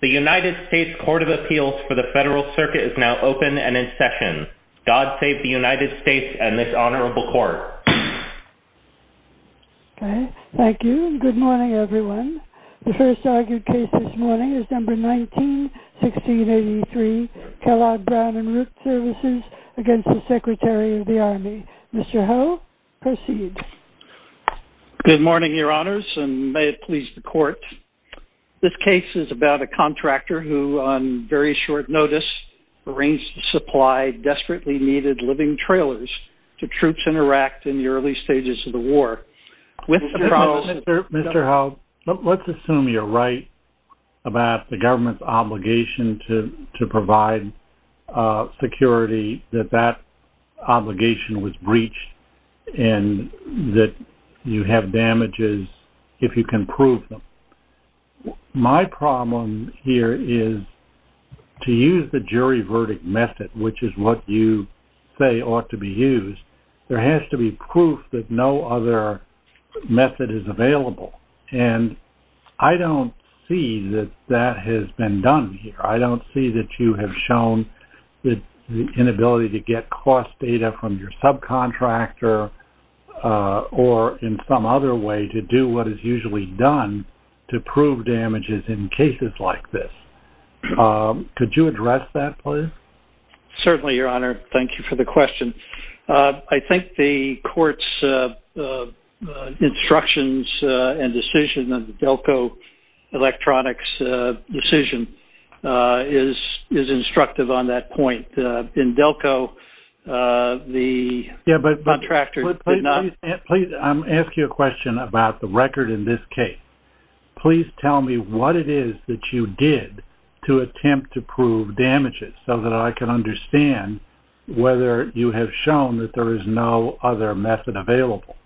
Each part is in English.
The United States Court of Appeals for the Federal Circuit is now open and in session. God Save the United States and this Honorable Court. Thank you and good morning everyone. The first argued case this morning is No. 19-1683 Kellogg Brown & Root Services v. Secretary of the Army. Mr. Ho, proceed. Good morning your honors and may it please the court. This case is about a contractor who on very short notice arranged to supply desperately needed living trailers to troops in Iraq in the early stages of the war. Mr. Ho, let's assume you're right about the government's obligation to provide security that that obligation was breached and that you have damages if you can prove them. My problem here is to use the jury verdict method, which is what you say ought to be used, there has to be proof that no other method is available. And I don't see that that has been done here. I don't see that you have shown the inability to get cost data from your subcontractor or in some other way to do what is usually done to prove damages in cases like this. Could you address that please? Certainly your honor, thank you for the question. I think the court's instructions and decision of the Delco Electronics decision is instructive on that point. In Delco, the contractor did not... Please, I'm asking you a question about the record in this case. Please tell me what it is that you did to attempt to prove damages so that I can understand whether you have shown that there is no other method available.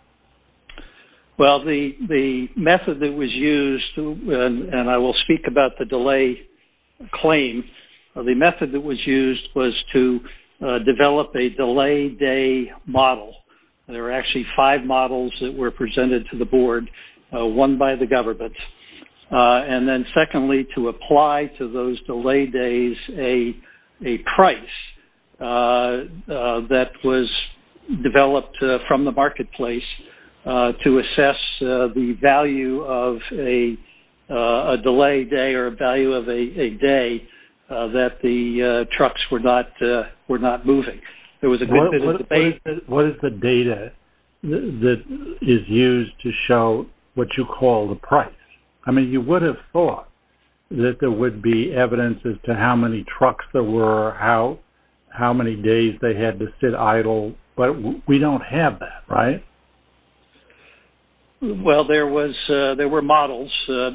Well, the method that was used and I will speak about the delay claim. The method that was used was to develop a delay day model. There were actually five models that were presented to the board, one by the government. And then secondly, to apply to those delay days a price that was developed from the marketplace to assess the value of a delay day or value of a day that the trucks were not moving. What is the data that is used to show what you call the price? I mean, you would have thought that there would be evidence as to how many trucks there were, how many days they had to sit idle, but we don't have that, right? Well, there were models.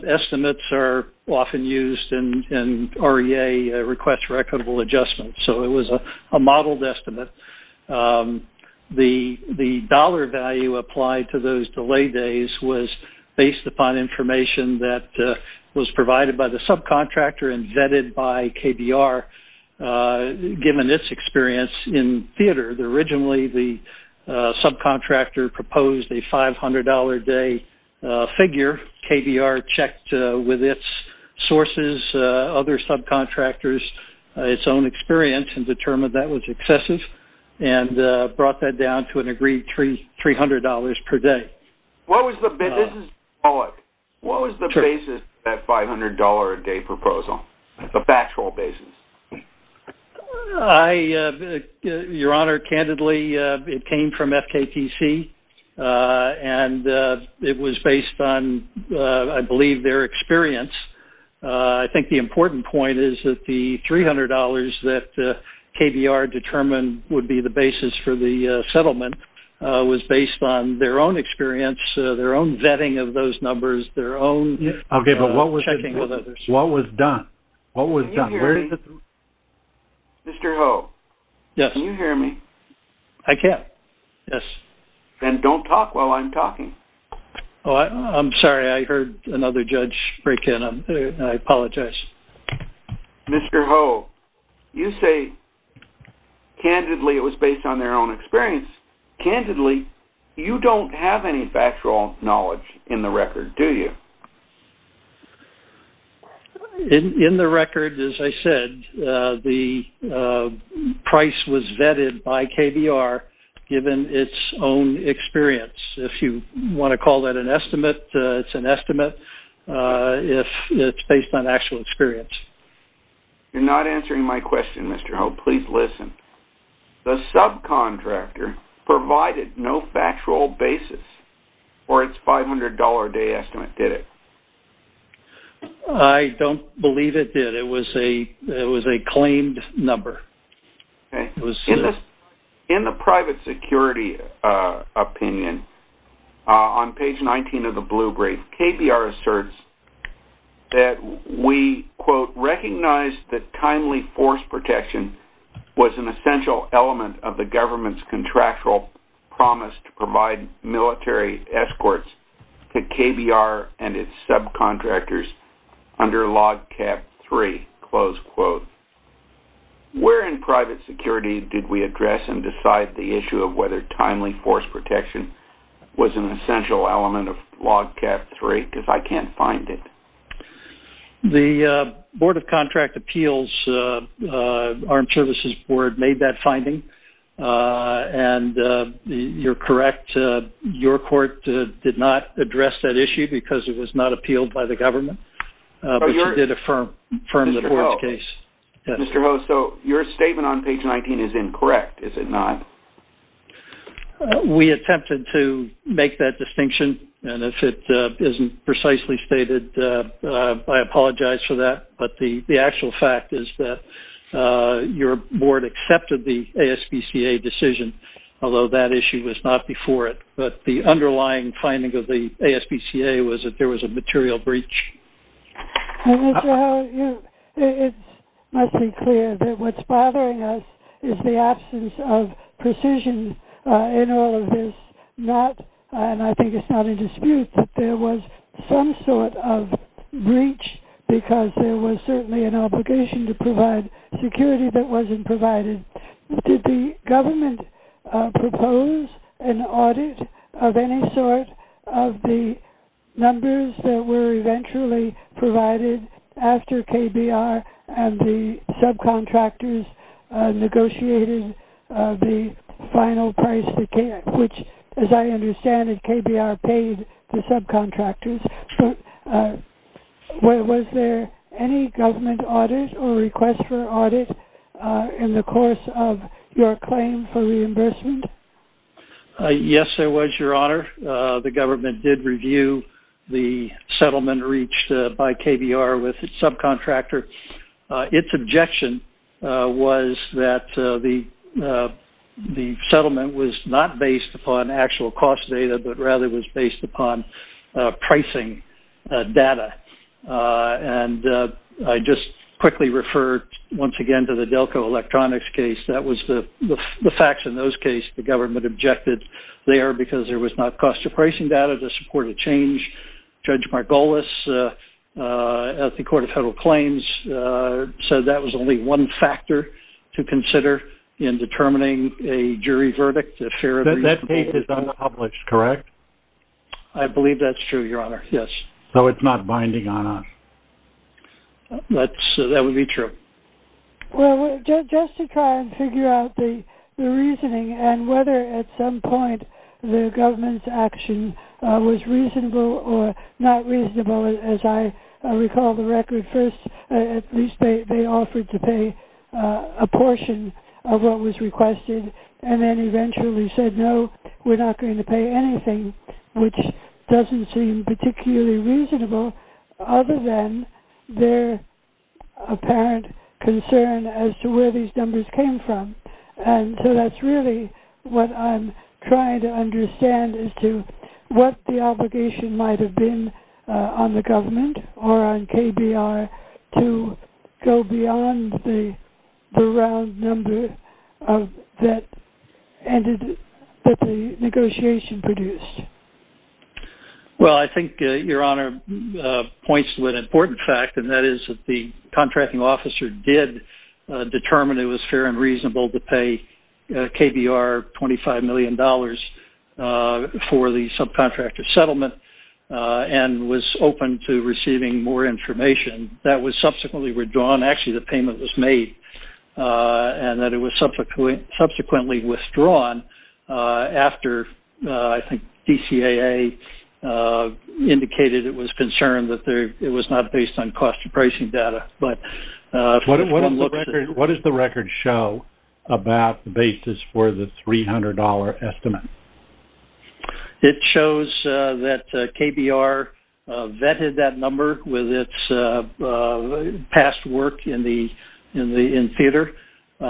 Estimates are often used and REA requests recordable adjustments, so it was a modeled estimate. The dollar value applied to those delay days was based upon information that was provided by the subcontractor and vetted by KBR given its experience in theater. Originally, the subcontractor proposed a $500-a-day figure. KBR checked with its sources, other subcontractors, its own experience and determined that was excessive and brought that down to an agreed $300 per day. What was the basis of that $500-a-day proposal, the factual basis? Your Honor, candidly, it came from FKTC and it was based on, I believe, their experience. I think the important point is that the $300 that KBR determined would be the basis for the settlement was based on their own experience, their own vetting of those numbers, their own checking with others. What was done? What was done? Mr. Ho, can you hear me? I can. Then don't talk while I'm talking. I'm sorry. I heard another judge break in. I apologize. Mr. Ho, you say, candidly, it was based on their own experience. Candidly, you don't have any factual knowledge in the record, do you? In the record, as I said, the price was vetted by KBR given its own experience. If you want to call that an estimate, it's an estimate if it's based on actual experience. You're not answering my question, Mr. Ho. Please listen. The subcontractor provided no factual basis for its $500-a-day estimate, did it? I don't believe it did. It was a claimed number. In the private security opinion, on page 19 of the blue brief, KBR asserts that we, quote, of the government's contractual promise to provide military escorts to KBR and its subcontractors under Log Cap 3, close quote. Where in private security did we address and decide the issue of whether timely force protection was an essential element of Log Cap 3? Because I can't find it. The Board of Contract Appeals, Armed Services Board, made that finding, and you're correct. Your court did not address that issue because it was not appealed by the government, but you did affirm the court's case. Mr. Ho, so your statement on page 19 is incorrect, is it not? We attempted to make that distinction, and if it isn't precisely stated, I apologize for that. But the actual fact is that your board accepted the ASPCA decision, although that issue was not before it. But the underlying finding of the ASPCA was that there was a material breach. Mr. Ho, it must be clear that what's bothering us is the absence of precision in all of this. And I think it's not in dispute that there was some sort of breach because there was certainly an obligation to provide security that wasn't provided. Did the government propose an audit of any sort of the numbers that were eventually provided after KBR and the subcontractors negotiated the final price, which, as I understand it, KBR paid the subcontractors? Was there any government audit or request for audit in the course of your claim for reimbursement? Yes, there was, Your Honor. The government did review the settlement reached by KBR with its subcontractor. Its objection was that the settlement was not based upon actual cost data, but rather was based upon pricing data. And I just quickly refer once again to the Delco Electronics case. That was the facts in those cases. The government objected there because there was not cost of pricing data to support a change. Judge Margolis at the Court of Federal Claims said that was only one factor to consider in determining a jury verdict. That case is unpublished, correct? I believe that's true, Your Honor. So it's not binding on us. That would be true. Well, just to try and figure out the reasoning and whether at some point the government's action was reasonable or not reasonable, as I recall the record. First, at least they offered to pay a portion of what was requested, and then eventually said, no, we're not going to pay anything, which doesn't seem particularly reasonable other than their apparent concern as to where these numbers came from. And so that's really what I'm trying to understand as to what the obligation might have been on the government or on KBR to go beyond the round number that the negotiation produced. Well, I think Your Honor points to an important fact, and that is that the contracting officer did determine it was fair and reasonable to pay KBR $25 million for the subcontractor settlement and was open to receiving more information. That was subsequently withdrawn, actually the payment was made, and that it was subsequently withdrawn after I think DCAA indicated it was concerned that it was not based on cost of pricing data. What does the record show about the basis for the $300 estimate? It shows that KBR vetted that number with its past work in theater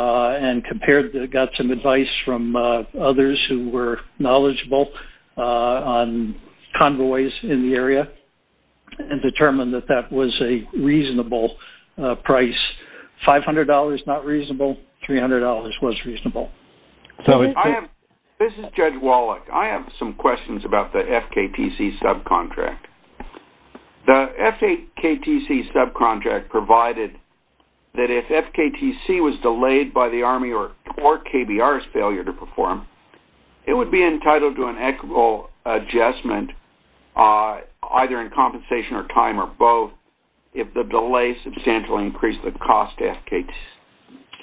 and got some advice from others who were knowledgeable on convoys in the area and determined that that was a reasonable price. $500 not reasonable, $300 was reasonable. This is Judge Wallach. I have some questions about the FKTC subcontract. The FKTC subcontract provided that if FKTC was delayed by the Army or KBR's failure to perform, it would be entitled to an equitable adjustment either in compensation or time or both if the delay substantially increased the cost to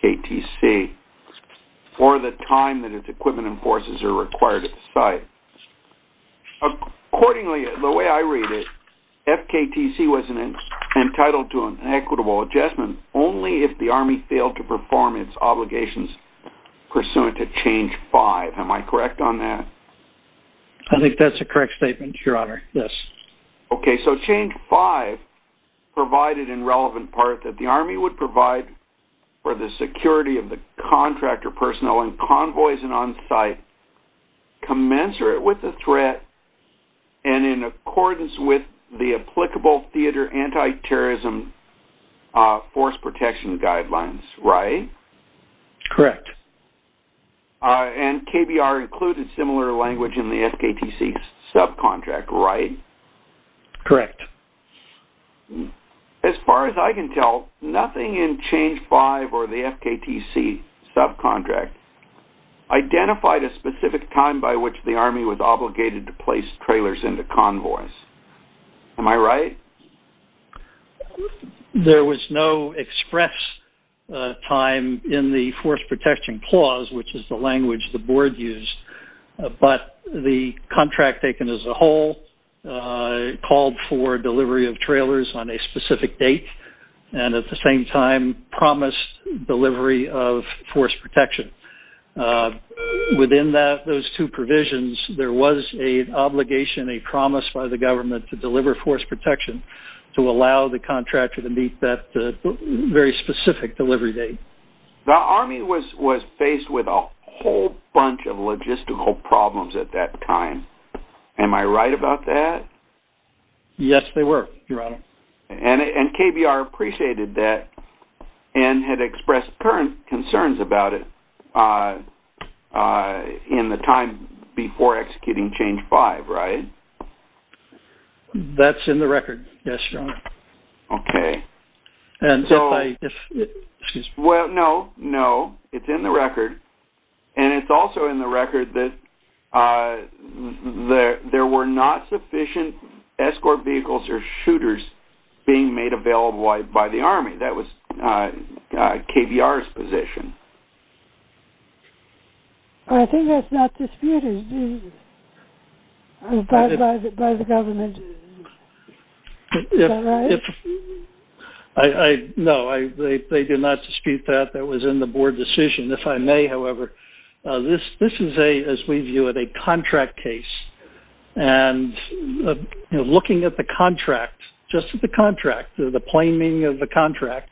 FKTC. Or the time that its equipment and forces are required at the site. Accordingly, the way I read it, FKTC was entitled to an equitable adjustment only if the Army failed to perform its obligations pursuant to change 5. Am I correct on that? I think that's a correct statement, Your Honor. Yes. Okay, so change 5 provided in relevant part that the Army would provide for the security of the contractor personnel in convoys and on-site commensurate with the threat and in accordance with the applicable theater anti-terrorism force protection guidelines, right? Correct. And KBR included similar language in the FKTC subcontract, right? Correct. As far as I can tell, nothing in change 5 or the FKTC subcontract identified a specific time by which the Army was obligated to place trailers into convoys. Am I right? There was no express time in the force protection clause, which is the language the board used, but the contract taken as a whole called for delivery of trailers on a specific date and at the same time promised delivery of force protection. Within those two provisions, there was an obligation, a promise by the government to deliver force protection to allow the contractor to meet that very specific delivery date. The Army was faced with a whole bunch of logistical problems at that time. Am I right about that? Yes, they were, Your Honor. And KBR appreciated that and had expressed current concerns about it in the time before executing change 5, right? That's in the record, yes, Your Honor. Okay. Well, no, no, it's in the record and it's also in the record that there were not sufficient escort vehicles or shooters being made available by the Army. That was KBR's position. I think that's not disputed by the government. Is that right? No, they do not dispute that. That was in the board decision. If I may, however, this is, as we view it, a contract case. And looking at the contract, just at the contract, the plain meaning of the contract,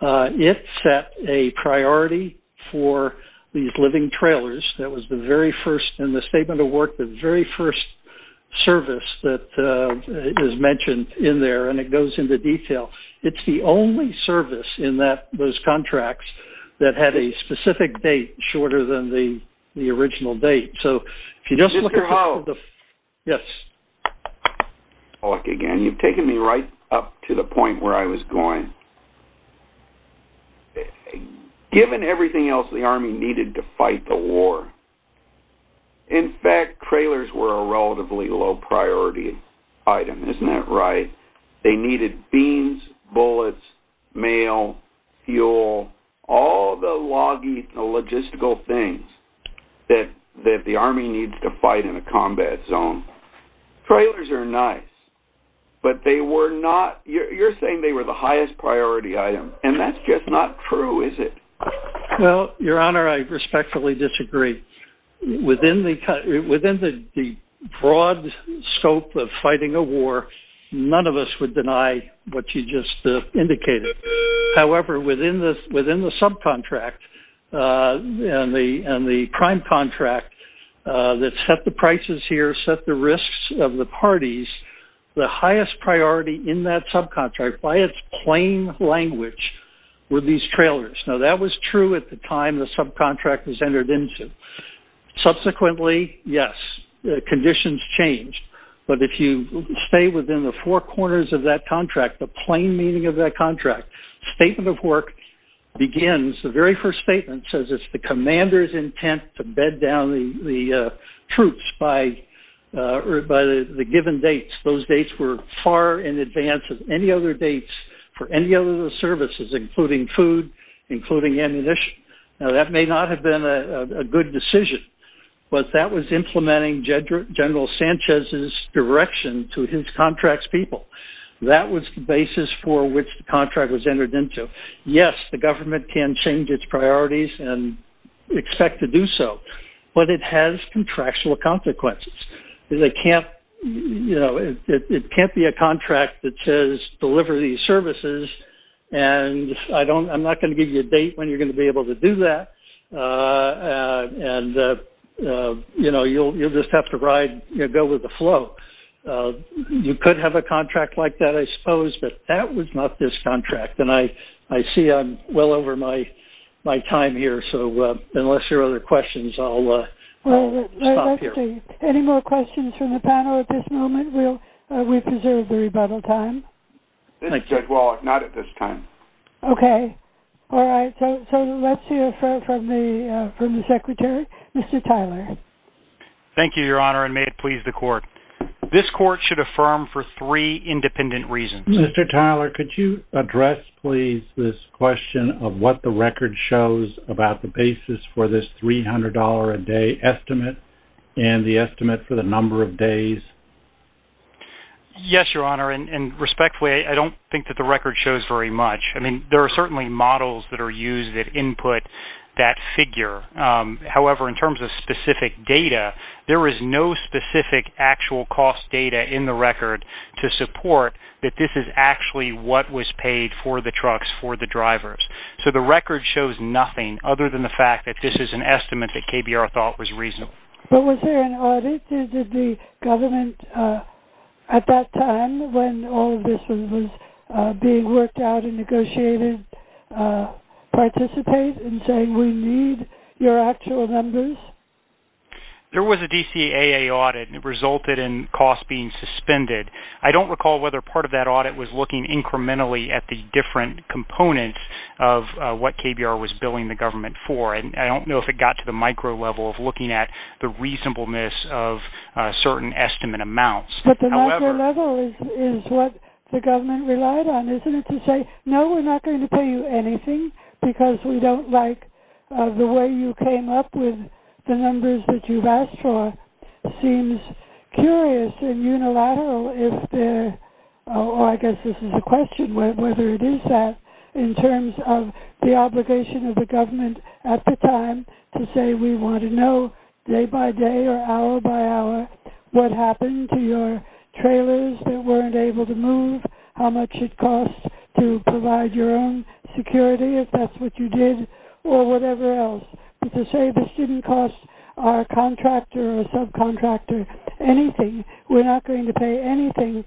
it set a priority for these living trailers. That was the very first, in the Statement of Work, the very first service that is mentioned in there and it goes into detail. It's the only service in those contracts that had a specific date shorter than the original date. Mr. Howell. Yes. Look, again, you've taken me right up to the point where I was going. Given everything else the Army needed to fight the war, in fact, trailers were a relatively low priority item. Isn't that right? They needed beans, bullets, mail, fuel, all the loggy logistical things that the Army needed to fight in a combat zone. Trailers are nice, but they were not, you're saying they were the highest priority item and that's just not true, is it? Well, Your Honor, I respectfully disagree. Within the broad scope of fighting a war, none of us would deny what you just indicated. However, within the subcontract and the prime contract that set the prices here, set the risks of the parties, the highest priority in that subcontract, by its plain language, were these trailers. Now, that was true at the time the subcontract was entered into. Subsequently, yes, conditions changed, but if you stay within the four corners of that contract, the plain meaning of that contract, statement of work begins. The very first statement says it's the commander's intent to bed down the troops by the given dates. Those dates were far in advance of any other dates for any other services, including food, including ammunition. Now, that may not have been a good decision, but that was implementing General Sanchez's direction to his contract's people. That was the basis for which the contract was entered into. Yes, the government can change its priorities and expect to do so, but it has contractual consequences. It can't be a contract that says, deliver these services, and I'm not going to give you a date when you're going to be able to do that, and you'll just have to go with the flow. You could have a contract like that, I suppose, but that was not this contract, and I see I'm well over my time here, so unless there are other questions, I'll stop here. Let's see, any more questions from the panel at this moment? We've preserved the rebuttal time. Not at this time. Okay, all right, so let's hear from the Secretary. Mr. Tyler. Thank you, Your Honor, and may it please the Court. This Court should affirm for three independent reasons. Mr. Tyler, could you address, please, this question of what the record shows about the basis for this $300 a day estimate? And the estimate for the number of days? Yes, Your Honor, and respectfully, I don't think that the record shows very much. I mean, there are certainly models that are used that input that figure. However, in terms of specific data, there is no specific actual cost data in the record to support that this is actually what was paid for the trucks for the drivers. So the record shows nothing other than the fact that this is an estimate that KBR thought was reasonable. But was there an audit? Did the government at that time, when all of this was being worked out and negotiated, participate in saying we need your actual numbers? There was a DCAA audit, and it resulted in costs being suspended. I don't recall whether part of that audit was looking incrementally at the different components of what KBR was billing the government for, and I don't know if it got to the micro level of looking at the reasonableness of certain estimate amounts. But the micro level is what the government relied on, isn't it? To say, no, we're not going to pay you anything because we don't like the way you came up with the numbers that you've asked for seems curious and unilateral if there, or I guess this is a question whether it is that, in terms of the obligation of the government at the time to say we want to know day by day or hour by hour what happened to your trailers that weren't able to move, how much it costs to provide your own security if that's what you did, or whatever else. To say the student costs are contractor or subcontractor, anything, we're not going to pay anything.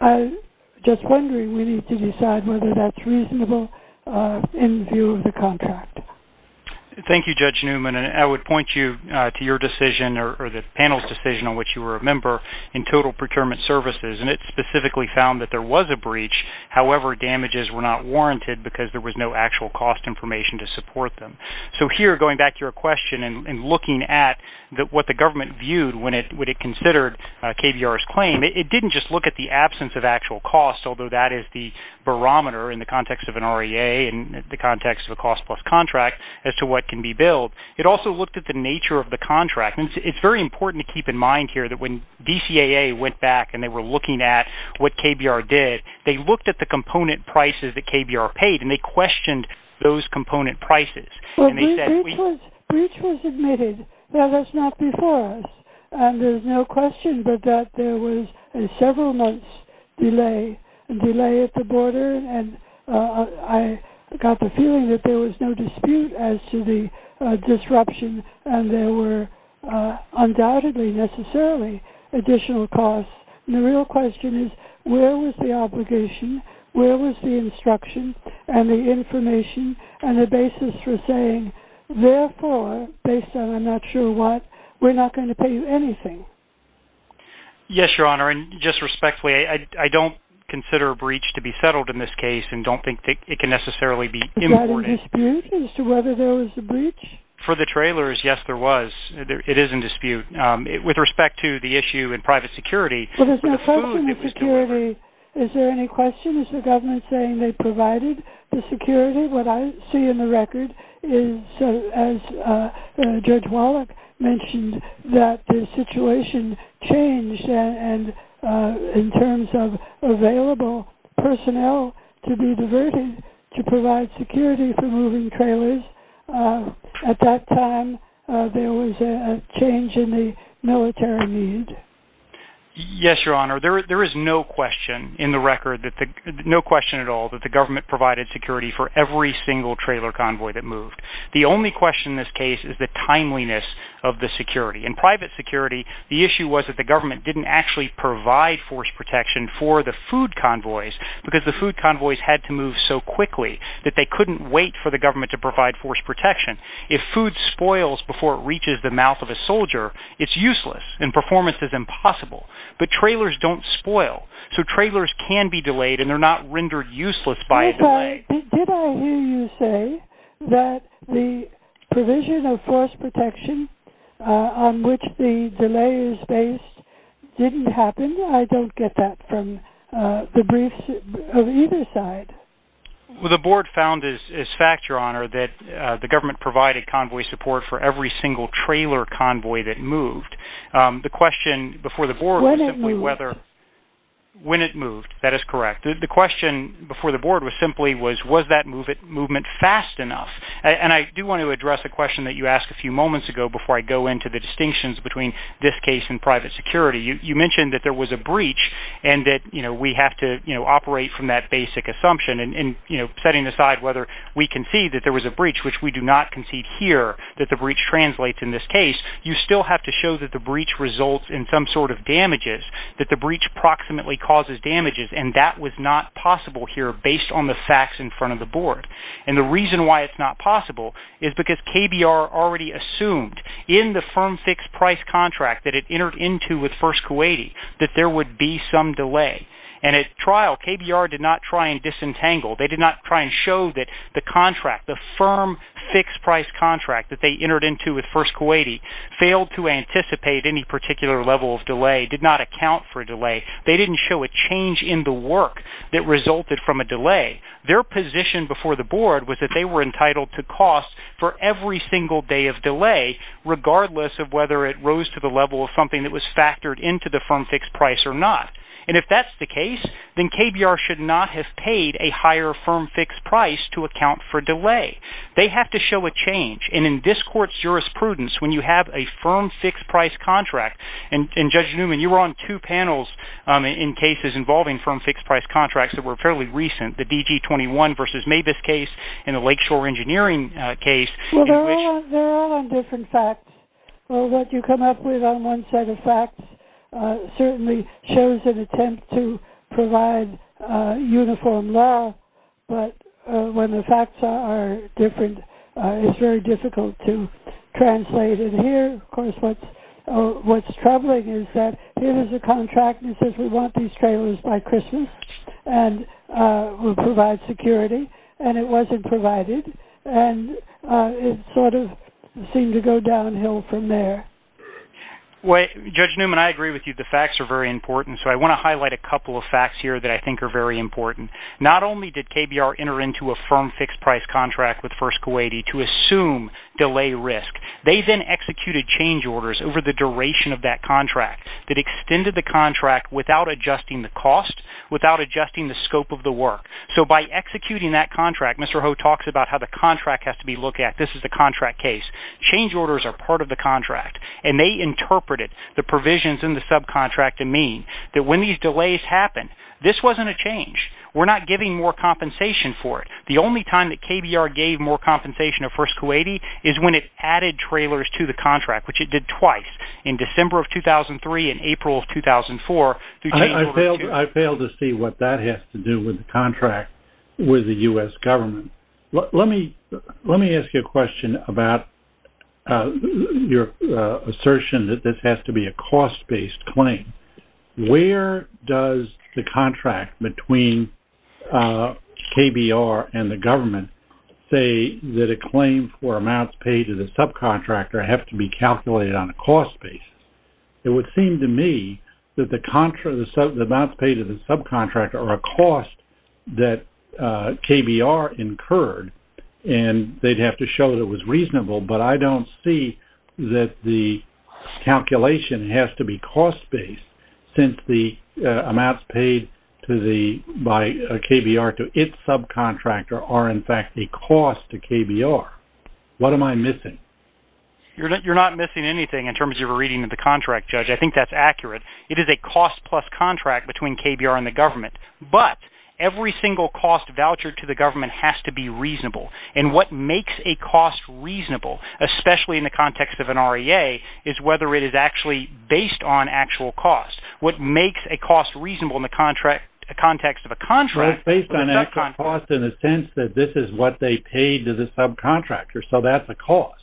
I'm just wondering, we need to decide whether that's reasonable in view of the contract. Thank you, Judge Newman, and I would point you to your decision, or the panel's decision on which you were a member, in total procurement services, however, damages were not warranted because there was no actual cost information to support them. So here, going back to your question and looking at what the government viewed when it considered KBR's claim, it didn't just look at the absence of actual costs, although that is the barometer in the context of an REA and the context of a cost plus contract as to what can be billed. It also looked at the nature of the contract. It's very important to keep in mind here that when DCAA went back and they were looking at what KBR did, they looked at the component prices that KBR paid, and they questioned those component prices. Breach was admitted, but that's not before us. There's no question but that there was a several months delay at the border, and I got the feeling that there was no dispute as to the disruption, and there were undoubtedly, necessarily, additional costs. The real question is, where was the obligation? Where was the instruction and the information and the basis for saying, therefore, based on I'm not sure what, we're not going to pay you anything? Yes, Your Honor, and just respectfully, I don't consider a breach to be settled in this case and don't think it can necessarily be imported. Was there a dispute as to whether there was a breach? With respect to the issue in private security. Well, there's no question of security. Is there any question? Is the government saying they provided the security? What I see in the record is, as Judge Wallach mentioned, that the situation changed, and in terms of available personnel to be diverted to provide security for moving trailers, at that time there was a change in the military need. Yes, Your Honor, there is no question in the record, no question at all, that the government provided security for every single trailer convoy that moved. The only question in this case is the timeliness of the security. In private security, the issue was that the government didn't actually provide force protection for the food convoys because the food convoys had to move so quickly that they couldn't wait for the government to provide force protection. If food spoils before it reaches the mouth of a soldier, it's useless and performance is impossible. But trailers don't spoil, so trailers can be delayed and they're not rendered useless by a delay. Did I hear you say that the provision of force protection on which the delay is based didn't happen? I don't get that from the briefs of either side. The board found as fact, Your Honor, that the government provided convoy support for every single trailer convoy that moved. The question before the board was simply whether... When it moved. When it moved, that is correct. The question before the board was simply was, was that movement fast enough? And I do want to address a question that you asked a few moments ago before I go into the distinctions between this case and private security. You mentioned that there was a breach and that we have to operate from that basic assumption and setting aside whether we concede that there was a breach, which we do not concede here that the breach translates in this case, you still have to show that the breach results in some sort of damages, that the breach approximately causes damages, and that was not possible here based on the facts in front of the board. And the reason why it's not possible is because KBR already assumed that in the firm fixed price contract that it entered into with First Kuwaiti, that there would be some delay. And at trial, KBR did not try and disentangle. They did not try and show that the contract, the firm fixed price contract that they entered into with First Kuwaiti, failed to anticipate any particular level of delay, did not account for delay. They didn't show a change in the work that resulted from a delay. Their position before the board was that they were entitled to cost for every single day of delay, regardless of whether it rose to the level of something that was factored into the firm fixed price or not. And if that's the case, then KBR should not have paid a higher firm fixed price to account for delay. They have to show a change. And in this court's jurisprudence, when you have a firm fixed price contract, and Judge Newman, you were on two panels in cases involving firm fixed price contracts that were fairly recent, the DG21 v. Mavis case and the Lakeshore Engineering case. Well, they're all on different facts. Well, what you come up with on one set of facts certainly shows an attempt to provide uniform law. But when the facts are different, it's very difficult to translate. And here, of course, what's troubling is that here is a contract that says we want these trailers by Christmas and we'll provide security. And it wasn't provided. And it sort of seemed to go downhill from there. Judge Newman, I agree with you. The facts are very important. So I want to highlight a couple of facts here that I think are very important. Not only did KBR enter into a firm fixed price contract with First Kuwaiti to assume delay risk. They then executed change orders over the duration of that contract that extended the contract without adjusting the cost, without adjusting the scope of the work. So by executing that contract, Mr. Ho talks about how the contract has to be looked at. This is the contract case. Change orders are part of the contract. And they interpreted the provisions in the subcontract to mean that when these delays happen, this wasn't a change. We're not giving more compensation for it. The only time that KBR gave more compensation to First Kuwaiti is when it added trailers to the contract, which it did twice, in December of 2003 and April of 2004. I fail to see what that has to do with the contract with the U.S. government. Let me ask you a question about your assertion that this has to be a cost-based claim. Where does the contract between KBR and the government say that a claim for amounts paid to the subcontractor have to be calculated on a cost basis? It would seem to me that the amounts paid to the subcontractor are a cost that KBR incurred, and they'd have to show that it was reasonable. But I don't see that the calculation has to be cost-based, since the amounts paid by KBR to its subcontractor are, in fact, a cost to KBR. What am I missing? You're not missing anything in terms of a reading of the contract, Judge. I think that's accurate. It is a cost-plus contract between KBR and the government. But every single cost vouchered to the government has to be reasonable. And what makes a cost reasonable, especially in the context of an REA, is whether it is actually based on actual cost. What makes a cost reasonable in the context of a contract is a subcontract. Well, it's based on actual cost in the sense that this is what they paid to the subcontractor, so that's a cost.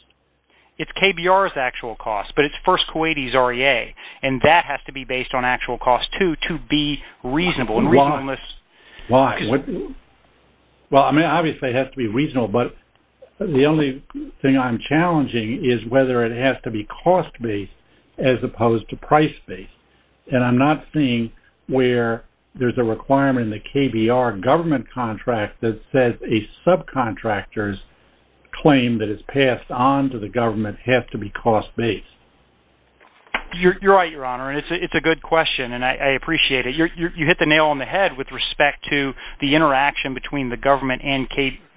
It's KBR's actual cost, but it's First Kuwaiti's REA, and that has to be based on actual cost, too, to be reasonable. Why? Well, I mean, obviously it has to be reasonable, but the only thing I'm challenging is whether it has to be cost-based as opposed to price-based. And I'm not seeing where there's a requirement in the KBR government contract that says a subcontractor's claim that is passed on to the government has to be cost-based. You're right, Your Honor, and it's a good question, and I appreciate it. You hit the nail on the head with respect to the interaction between the government and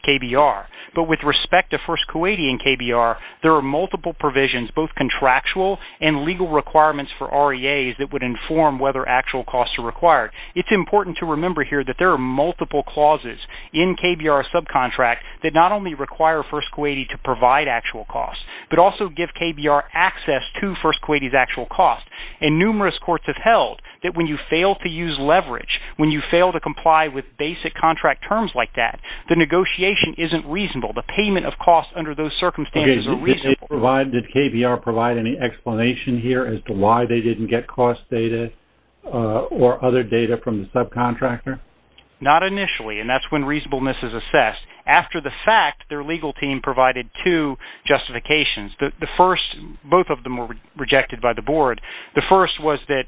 KBR. But with respect to First Kuwaiti and KBR, there are multiple provisions, both contractual and legal requirements for REAs, that would inform whether actual costs are required. It's important to remember here that there are multiple clauses in KBR's subcontract that not only require First Kuwaiti to provide actual costs, but also give KBR access to First Kuwaiti's actual cost. And numerous courts have held that when you fail to use leverage, when you fail to comply with basic contract terms like that, the negotiation isn't reasonable. The payment of costs under those circumstances are reasonable. Did KBR provide any explanation here as to why they didn't get cost data or other data from the subcontractor? Not initially, and that's when reasonableness is assessed. After the fact, their legal team provided two justifications. The first, both of them were rejected by the board. The first was that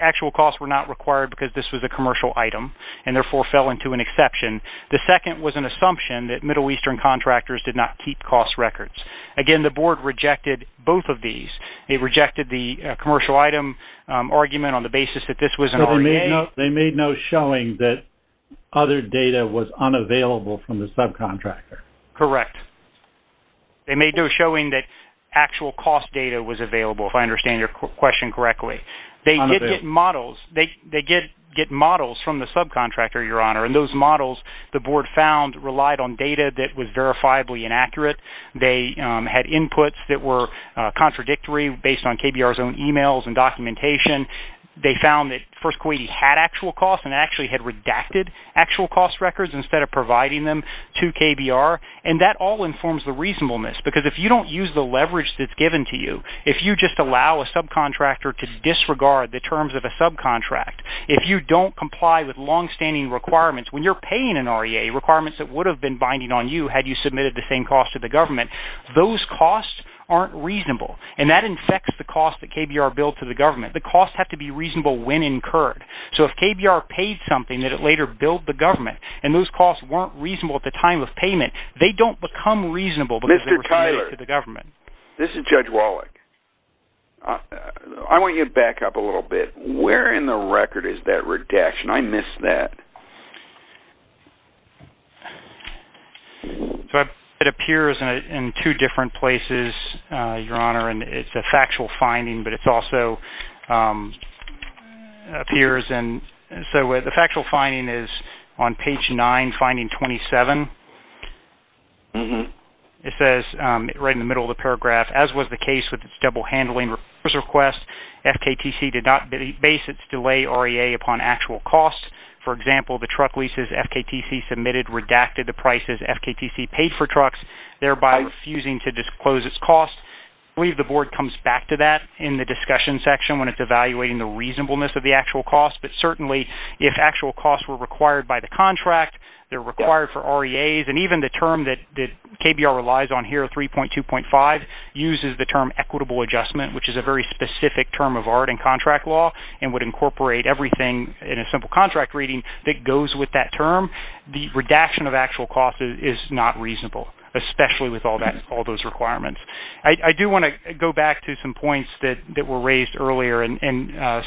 actual costs were not required because this was a commercial item and therefore fell into an exception. The second was an assumption that Middle Eastern contractors did not keep cost records. Again, the board rejected both of these. They rejected the commercial item argument on the basis that this was an REA. So they made no showing that other data was unavailable from the subcontractor? Correct. They made no showing that actual cost data was available, if I understand your question correctly. They did get models. They did get models from the subcontractor, Your Honor, and those models the board found relied on data that was verifiably inaccurate. They had inputs that were contradictory based on KBR's own e-mails and documentation. They found that First Kuwaiti had actual costs and actually had redacted actual cost records instead of providing them to KBR. And that all informs the reasonableness, because if you don't use the leverage that's given to you, if you just allow a subcontractor to disregard the terms of a subcontract, if you don't comply with longstanding requirements, when you're paying an REA requirements that would have been binding on you had you submitted the same cost to the government, those costs aren't reasonable. And that infects the cost that KBR billed to the government. The costs have to be reasonable when incurred. So if KBR paid something that it later billed the government and those costs weren't reasonable at the time of payment, they don't become reasonable because they were submitted to the government. Mr. Tyler, this is Judge Wallach. I want you to back up a little bit. Where in the record is that redaction? I missed that. It appears in two different places, Your Honor. It's a factual finding, but it also appears in – so the factual finding is on page 9, finding 27. It says right in the middle of the paragraph, as was the case with its double handling request, FKTC did not base its delay REA upon actual costs. For example, the truck leases FKTC submitted redacted the prices FKTC paid for trucks, thereby refusing to disclose its costs. I believe the board comes back to that in the discussion section when it's evaluating the reasonableness of the actual costs. But certainly, if actual costs were required by the contract, they're required for REAs, and even the term that KBR relies on here, 3.2.5, uses the term equitable adjustment, which is a very specific term of art in contract law, and would incorporate everything in a simple contract reading that goes with that term, the redaction of actual costs is not reasonable, especially with all those requirements. I do want to go back to some points that were raised earlier, and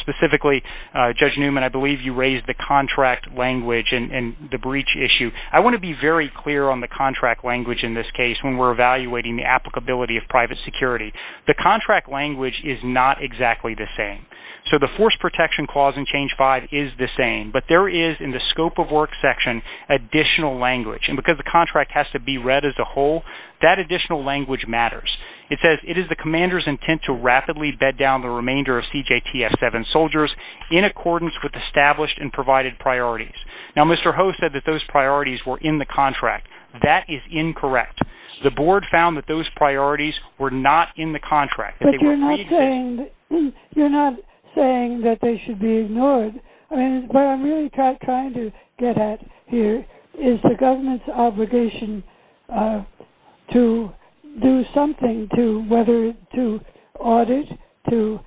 specifically, Judge Newman, I believe you raised the contract language and the breach issue. I want to be very clear on the contract language in this case when we're evaluating the applicability of private security. The contract language is not exactly the same. So the force protection clause in change five is the same, but there is, in the scope of work section, additional language. And because the contract has to be read as a whole, that additional language matters. It says, it is the commander's intent to rapidly bed down the remainder of CJTF-7 soldiers in accordance with established and provided priorities. Now, Mr. Ho said that those priorities were in the contract. That is incorrect. The board found that those priorities were not in the contract. But you're not saying that they should be ignored. I mean, what I'm really trying to get at here is the government's obligation to do something, whether to audit, to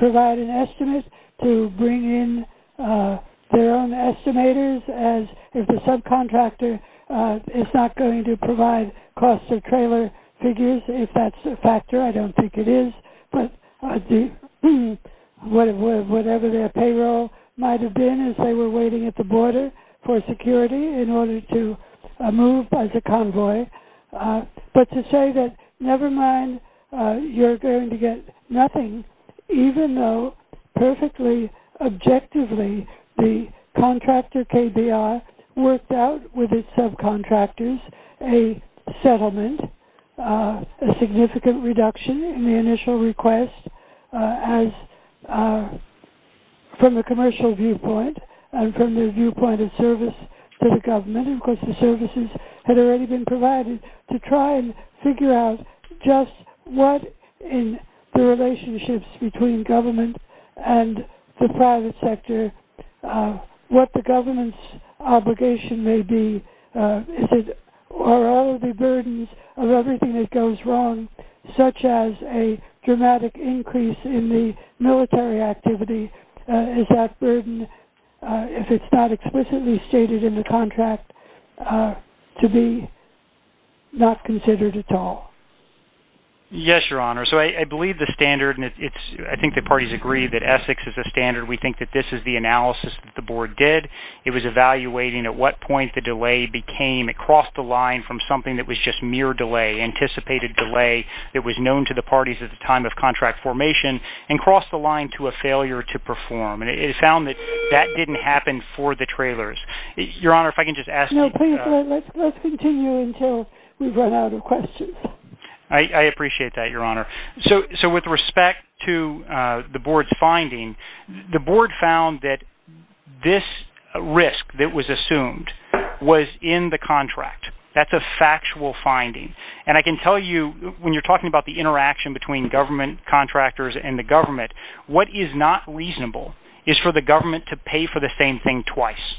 provide an estimate, to bring in their own estimators, as if the subcontractor is not going to provide cost of trailer figures, if that's a factor. I don't think it is. But whatever their payroll might have been as they were waiting at the border for security in order to move as a convoy. But to say that, never mind, you're going to get nothing, even though perfectly objectively the contractor KBR worked out with its subcontractors a settlement, a significant reduction in the initial request from a commercial viewpoint and from their viewpoint of service to the government. Of course, the services had already been provided to try and figure out just what in the relationship between government and the private sector, what the government's obligation may be. Are all of the burdens of everything that goes wrong, such as a dramatic increase in the military activity, is that burden, if it's not explicitly stated in the contract, to be not considered at all? Yes, Your Honor. So I believe the standard, and I think the parties agree that Essex is a standard. We think that this is the analysis that the board did. It was evaluating at what point the delay became. It crossed the line from something that was just mere delay, anticipated delay, that was known to the parties at the time of contract formation and crossed the line to a failure to perform. And it found that that didn't happen for the trailers. Your Honor, if I can just ask... No, please, let's continue until we run out of questions. I appreciate that, Your Honor. So with respect to the board's finding, the board found that this risk that was assumed was in the contract. That's a factual finding. And I can tell you, when you're talking about the interaction between government contractors and the government, what is not reasonable is for the government to pay for the same thing twice.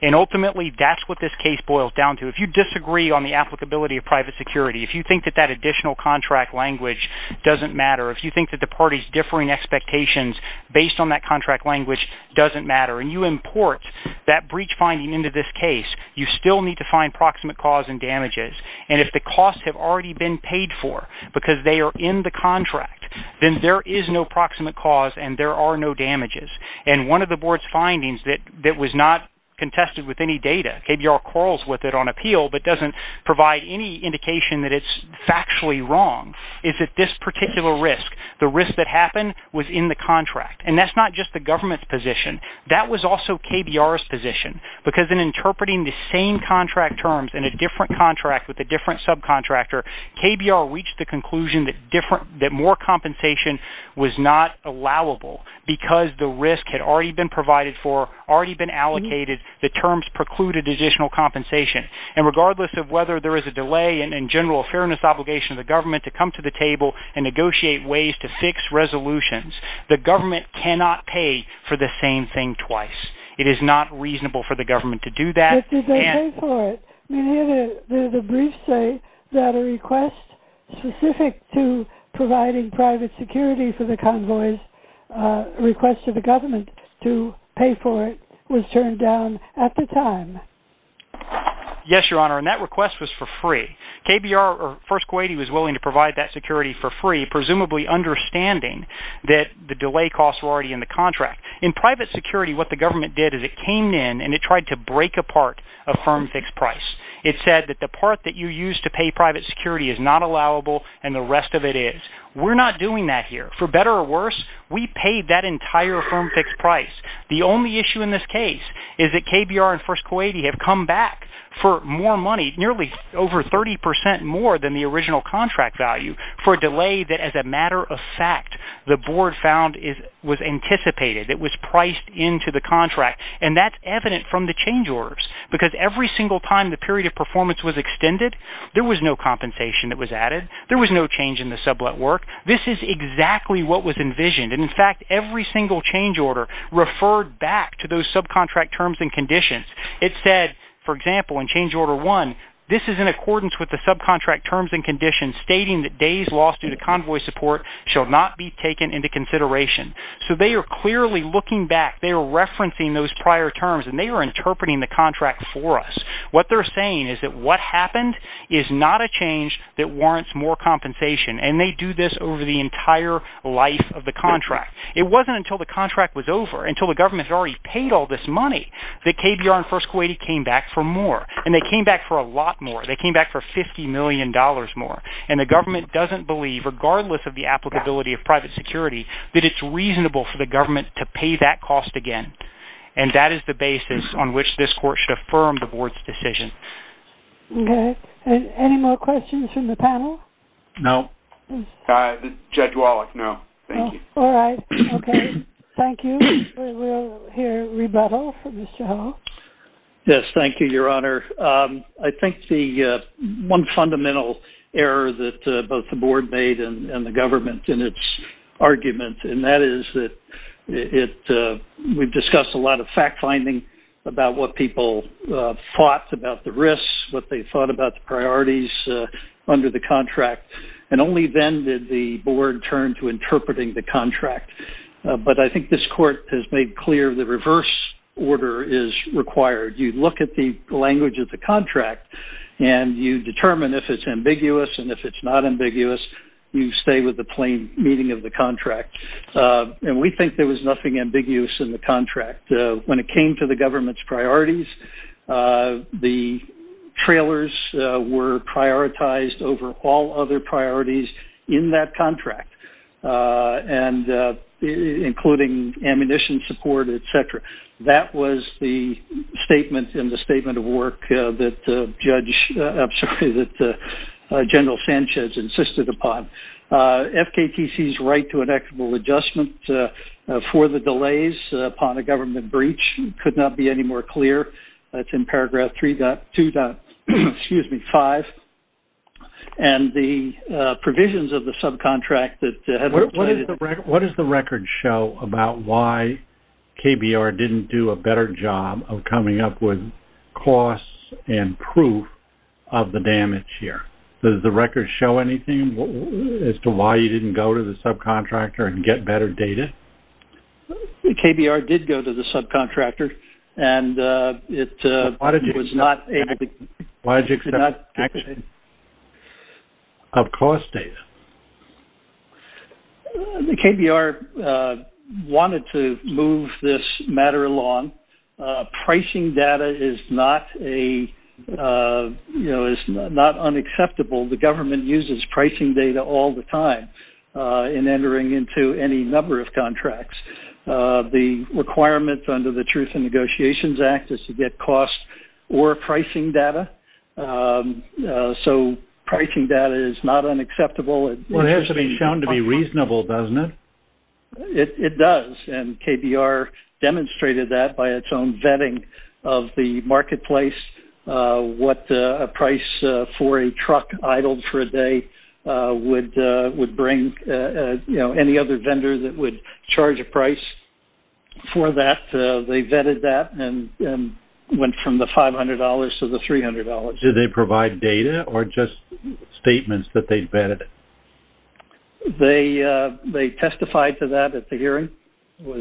And ultimately, that's what this case boils down to. If you disagree on the applicability of private security, if you think that that additional contract language doesn't matter, if you think that the parties' differing expectations based on that contract language doesn't matter, and you import that breach finding into this case, you still need to find proximate cause and damages. And if the costs have already been paid for because they are in the contract, then there is no proximate cause and there are no damages. And one of the board's findings that was not contested with any data, KBR quarrels with it on appeal but doesn't provide any indication that it's factually wrong, is that this particular risk, the risk that happened was in the contract. And that's not just the government's position. That was also KBR's position. Because in interpreting the same contract terms in a different contract with a different subcontractor, KBR reached the conclusion that more compensation was not allowable because the risk had already been provided for, already been allocated, the terms precluded additional compensation. And regardless of whether there is a delay and, in general, a fairness obligation of the government to come to the table and negotiate ways to fix resolutions, the government cannot pay for the same thing twice. It is not reasonable for the government to do that. But did they pay for it? I mean, here there's a brief say that a request specific to providing private security for the convoys, a request to the government to pay for it was turned down at the time. Yes, Your Honor, and that request was for free. KBR or First Kuwaiti was willing to provide that security for free, presumably understanding that the delay costs were already in the contract. In private security, what the government did is it came in and it tried to break apart a firm fixed price. It said that the part that you use to pay private security is not allowable and the rest of it is. We're not doing that here. For better or worse, we paid that entire firm fixed price. The only issue in this case is that KBR and First Kuwaiti have come back for more money, nearly over 30 percent more than the original contract value, for a delay that, as a matter of fact, the board found was anticipated. It was priced into the contract. And that's evident from the change orders. Because every single time the period of performance was extended, there was no compensation that was added. There was no change in the sublet work. This is exactly what was envisioned. And, in fact, every single change order referred back to those subcontract terms and conditions. It said, for example, in change order one, this is in accordance with the subcontract terms and conditions, stating that days lost due to convoy support shall not be taken into consideration. So they are clearly looking back. They are referencing those prior terms. And they are interpreting the contract for us. What they're saying is that what happened is not a change that warrants more compensation. And they do this over the entire life of the contract. It wasn't until the contract was over, until the government had already paid all this money, that KBR and First Kuwaiti came back for more. And they came back for a lot more. They came back for $50 million more. And the government doesn't believe, regardless of the applicability of private security, that it's reasonable for the government to pay that cost again. And that is the basis on which this court should affirm the board's decision. Okay. Any more questions from the panel? No. Judge Wallach, no. Thank you. All right. Okay. Thank you. We will hear rebuttal from Mr. Howell. Yes. Thank you, Your Honor. I think the one fundamental error that both the board made and the government in its argument, and that is that we've discussed a lot of fact-finding about what people thought about the risks, what they thought about the priorities under the contract. And only then did the board turn to interpreting the contract. But I think this court has made clear the reverse order is required. You look at the language of the contract, and you determine if it's ambiguous, and if it's not ambiguous, you stay with the plain meaning of the contract. And we think there was nothing ambiguous in the contract. When it came to the government's priorities, the trailers were prioritized over all other priorities in that contract, including ammunition support, et cetera. That was the statement in the statement of work that General Sanchez insisted upon. FKTC's right to an equitable adjustment for the delays upon a government breach could not be any more clear. That's in paragraph 3.2.5. And the provisions of the subcontract that have been provided... What does the record show about why KBR didn't do a better job of coming up with costs and proof of the damage here? Does the record show anything as to why you didn't go to the subcontractor and get better data? KBR did go to the subcontractor, and it was not able to... Why did you accept action of cost data? KBR wanted to move this matter along. Pricing data is not unacceptable. The government uses pricing data all the time in entering into any number of contracts. The requirements under the Truth in Negotiations Act is to get cost or pricing data, so pricing data is not unacceptable. It has to be shown to be reasonable, doesn't it? It does, and KBR demonstrated that by its own vetting of the marketplace, what a price for a truck idled for a day would bring, any other vendor that would charge a price for that. They vetted that and went from the $500 to the $300. Did they provide data or just statements that they vetted? They testified to that at the hearing. This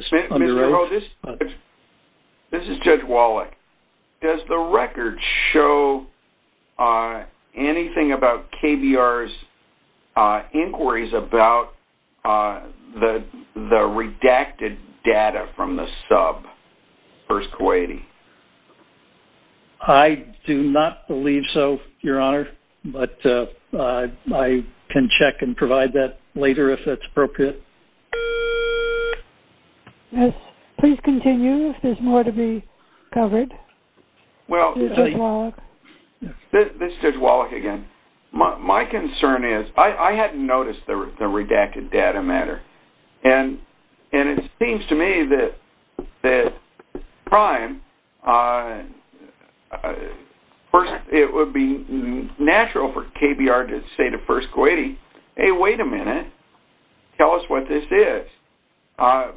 is Judge Wallach. Does the record show anything about KBR's inquiries about the redacted data from the sub versus Kuwaiti? I do not believe so, Your Honor, but I can check and provide that later if that's appropriate. Yes, please continue if there's more to be covered. Well, this is Judge Wallach again. My concern is I hadn't noticed the redacted data matter, and it seems to me that it would be natural for KBR to say to First Kuwaiti, hey, wait a minute, tell us what this is.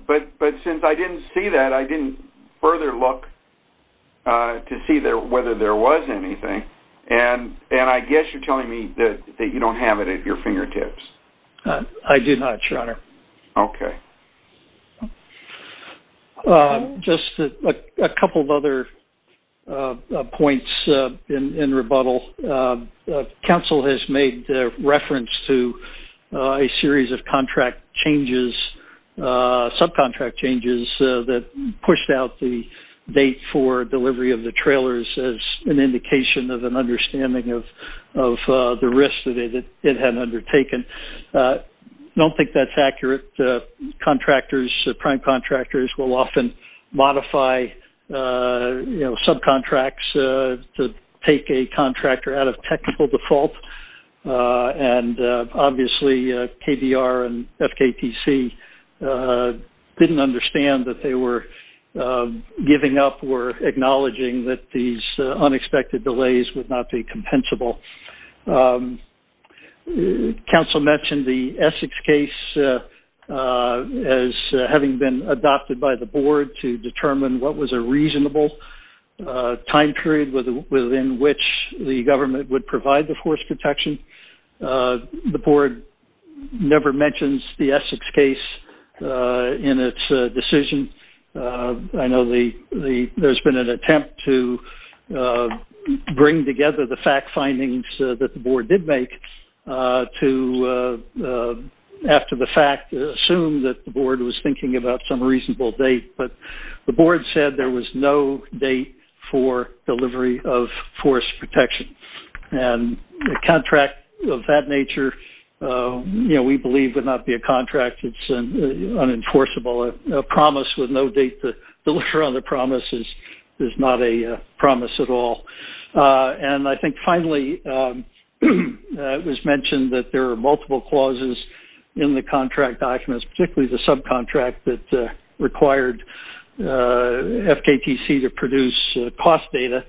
But since I didn't see that, I didn't further look to see whether there was anything, and I guess you're telling me that you don't have it at your fingertips. I do not, Your Honor. Okay. Just a couple of other points in rebuttal. Council has made reference to a series of contract changes, subcontract changes, that pushed out the date for delivery of the trailers as an indication of an understanding of the risks that it had undertaken. I don't think that's accurate. Contractors, prime contractors, will often modify subcontracts to take a contractor out of technical default, and obviously KBR and FKTC didn't understand that they were giving up and were acknowledging that these unexpected delays would not be compensable. Council mentioned the Essex case as having been adopted by the board to determine what was a reasonable time period within which the government would provide the force protection. The board never mentions the Essex case in its decision. I know there's been an attempt to bring together the fact findings that the board did make to, after the fact, assume that the board was thinking about some reasonable date, but the board said there was no date for delivery of force protection, and a contract of that nature, we believe, would not be a contract. It's unenforceable. A promise with no date to deliver on the promise is not a promise at all. And I think, finally, it was mentioned that there are multiple clauses in the contract documents, particularly the subcontract that required FKTC to produce cost data.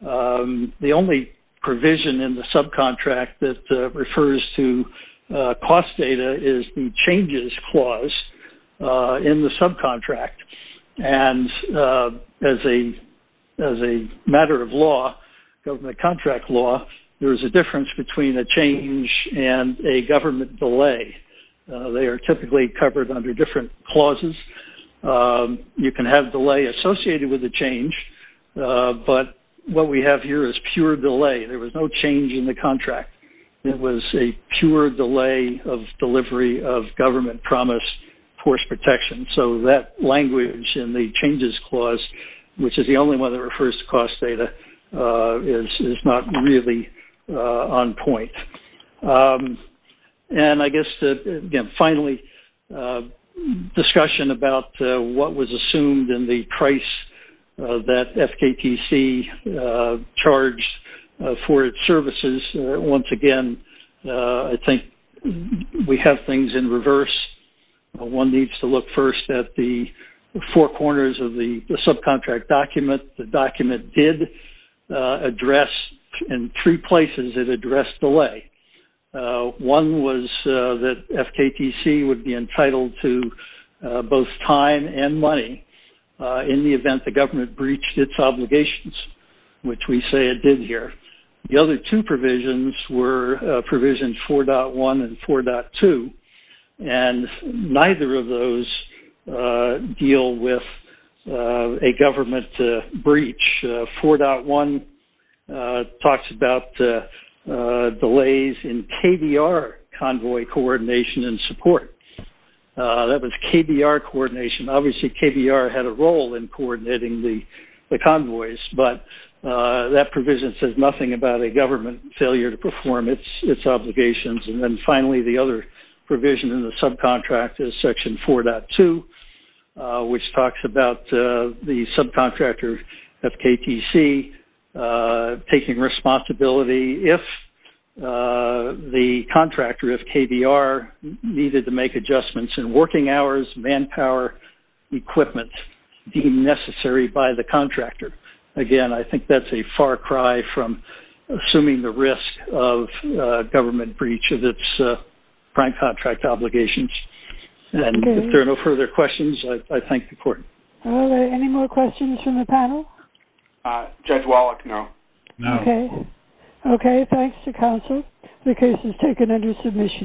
The only provision in the subcontract that refers to cost data is the changes clause in the subcontract, and as a matter of law, government contract law, there is a difference between a change and a government delay. They are typically covered under different clauses. You can have delay associated with a change, but what we have here is pure delay. There was no change in the contract. It was a pure delay of delivery of government promise force protection, so that language in the changes clause, which is the only one that refers to cost data, is not really on point. And I guess, again, finally, discussion about what was assumed in the price that FKTC charged for its services. Once again, I think we have things in reverse. One needs to look first at the four corners of the subcontract document. The document did address, in three places, it addressed delay. One was that FKTC would be entitled to both time and money in the event the government breached its obligations, which we say it did here. The other two provisions were provisions 4.1 and 4.2, and neither of those deal with a government breach. 4.1 talks about delays in KBR convoy coordination and support. That was KBR coordination. Obviously, KBR had a role in coordinating the convoys, but that provision says nothing about a government failure to perform its obligations. And then finally, the other provision in the subcontract is section 4.2, which talks about the subcontractor FKTC taking responsibility if the contractor of KBR needed to make adjustments in working hours, manpower, equipment deemed necessary by the contractor. Again, I think that's a far cry from assuming the risk of government breach of its prime contract obligations. If there are no further questions, I thank the court. Are there any more questions from the panel? Judge Wallach, no. Okay, thanks to counsel. The case is taken under submission.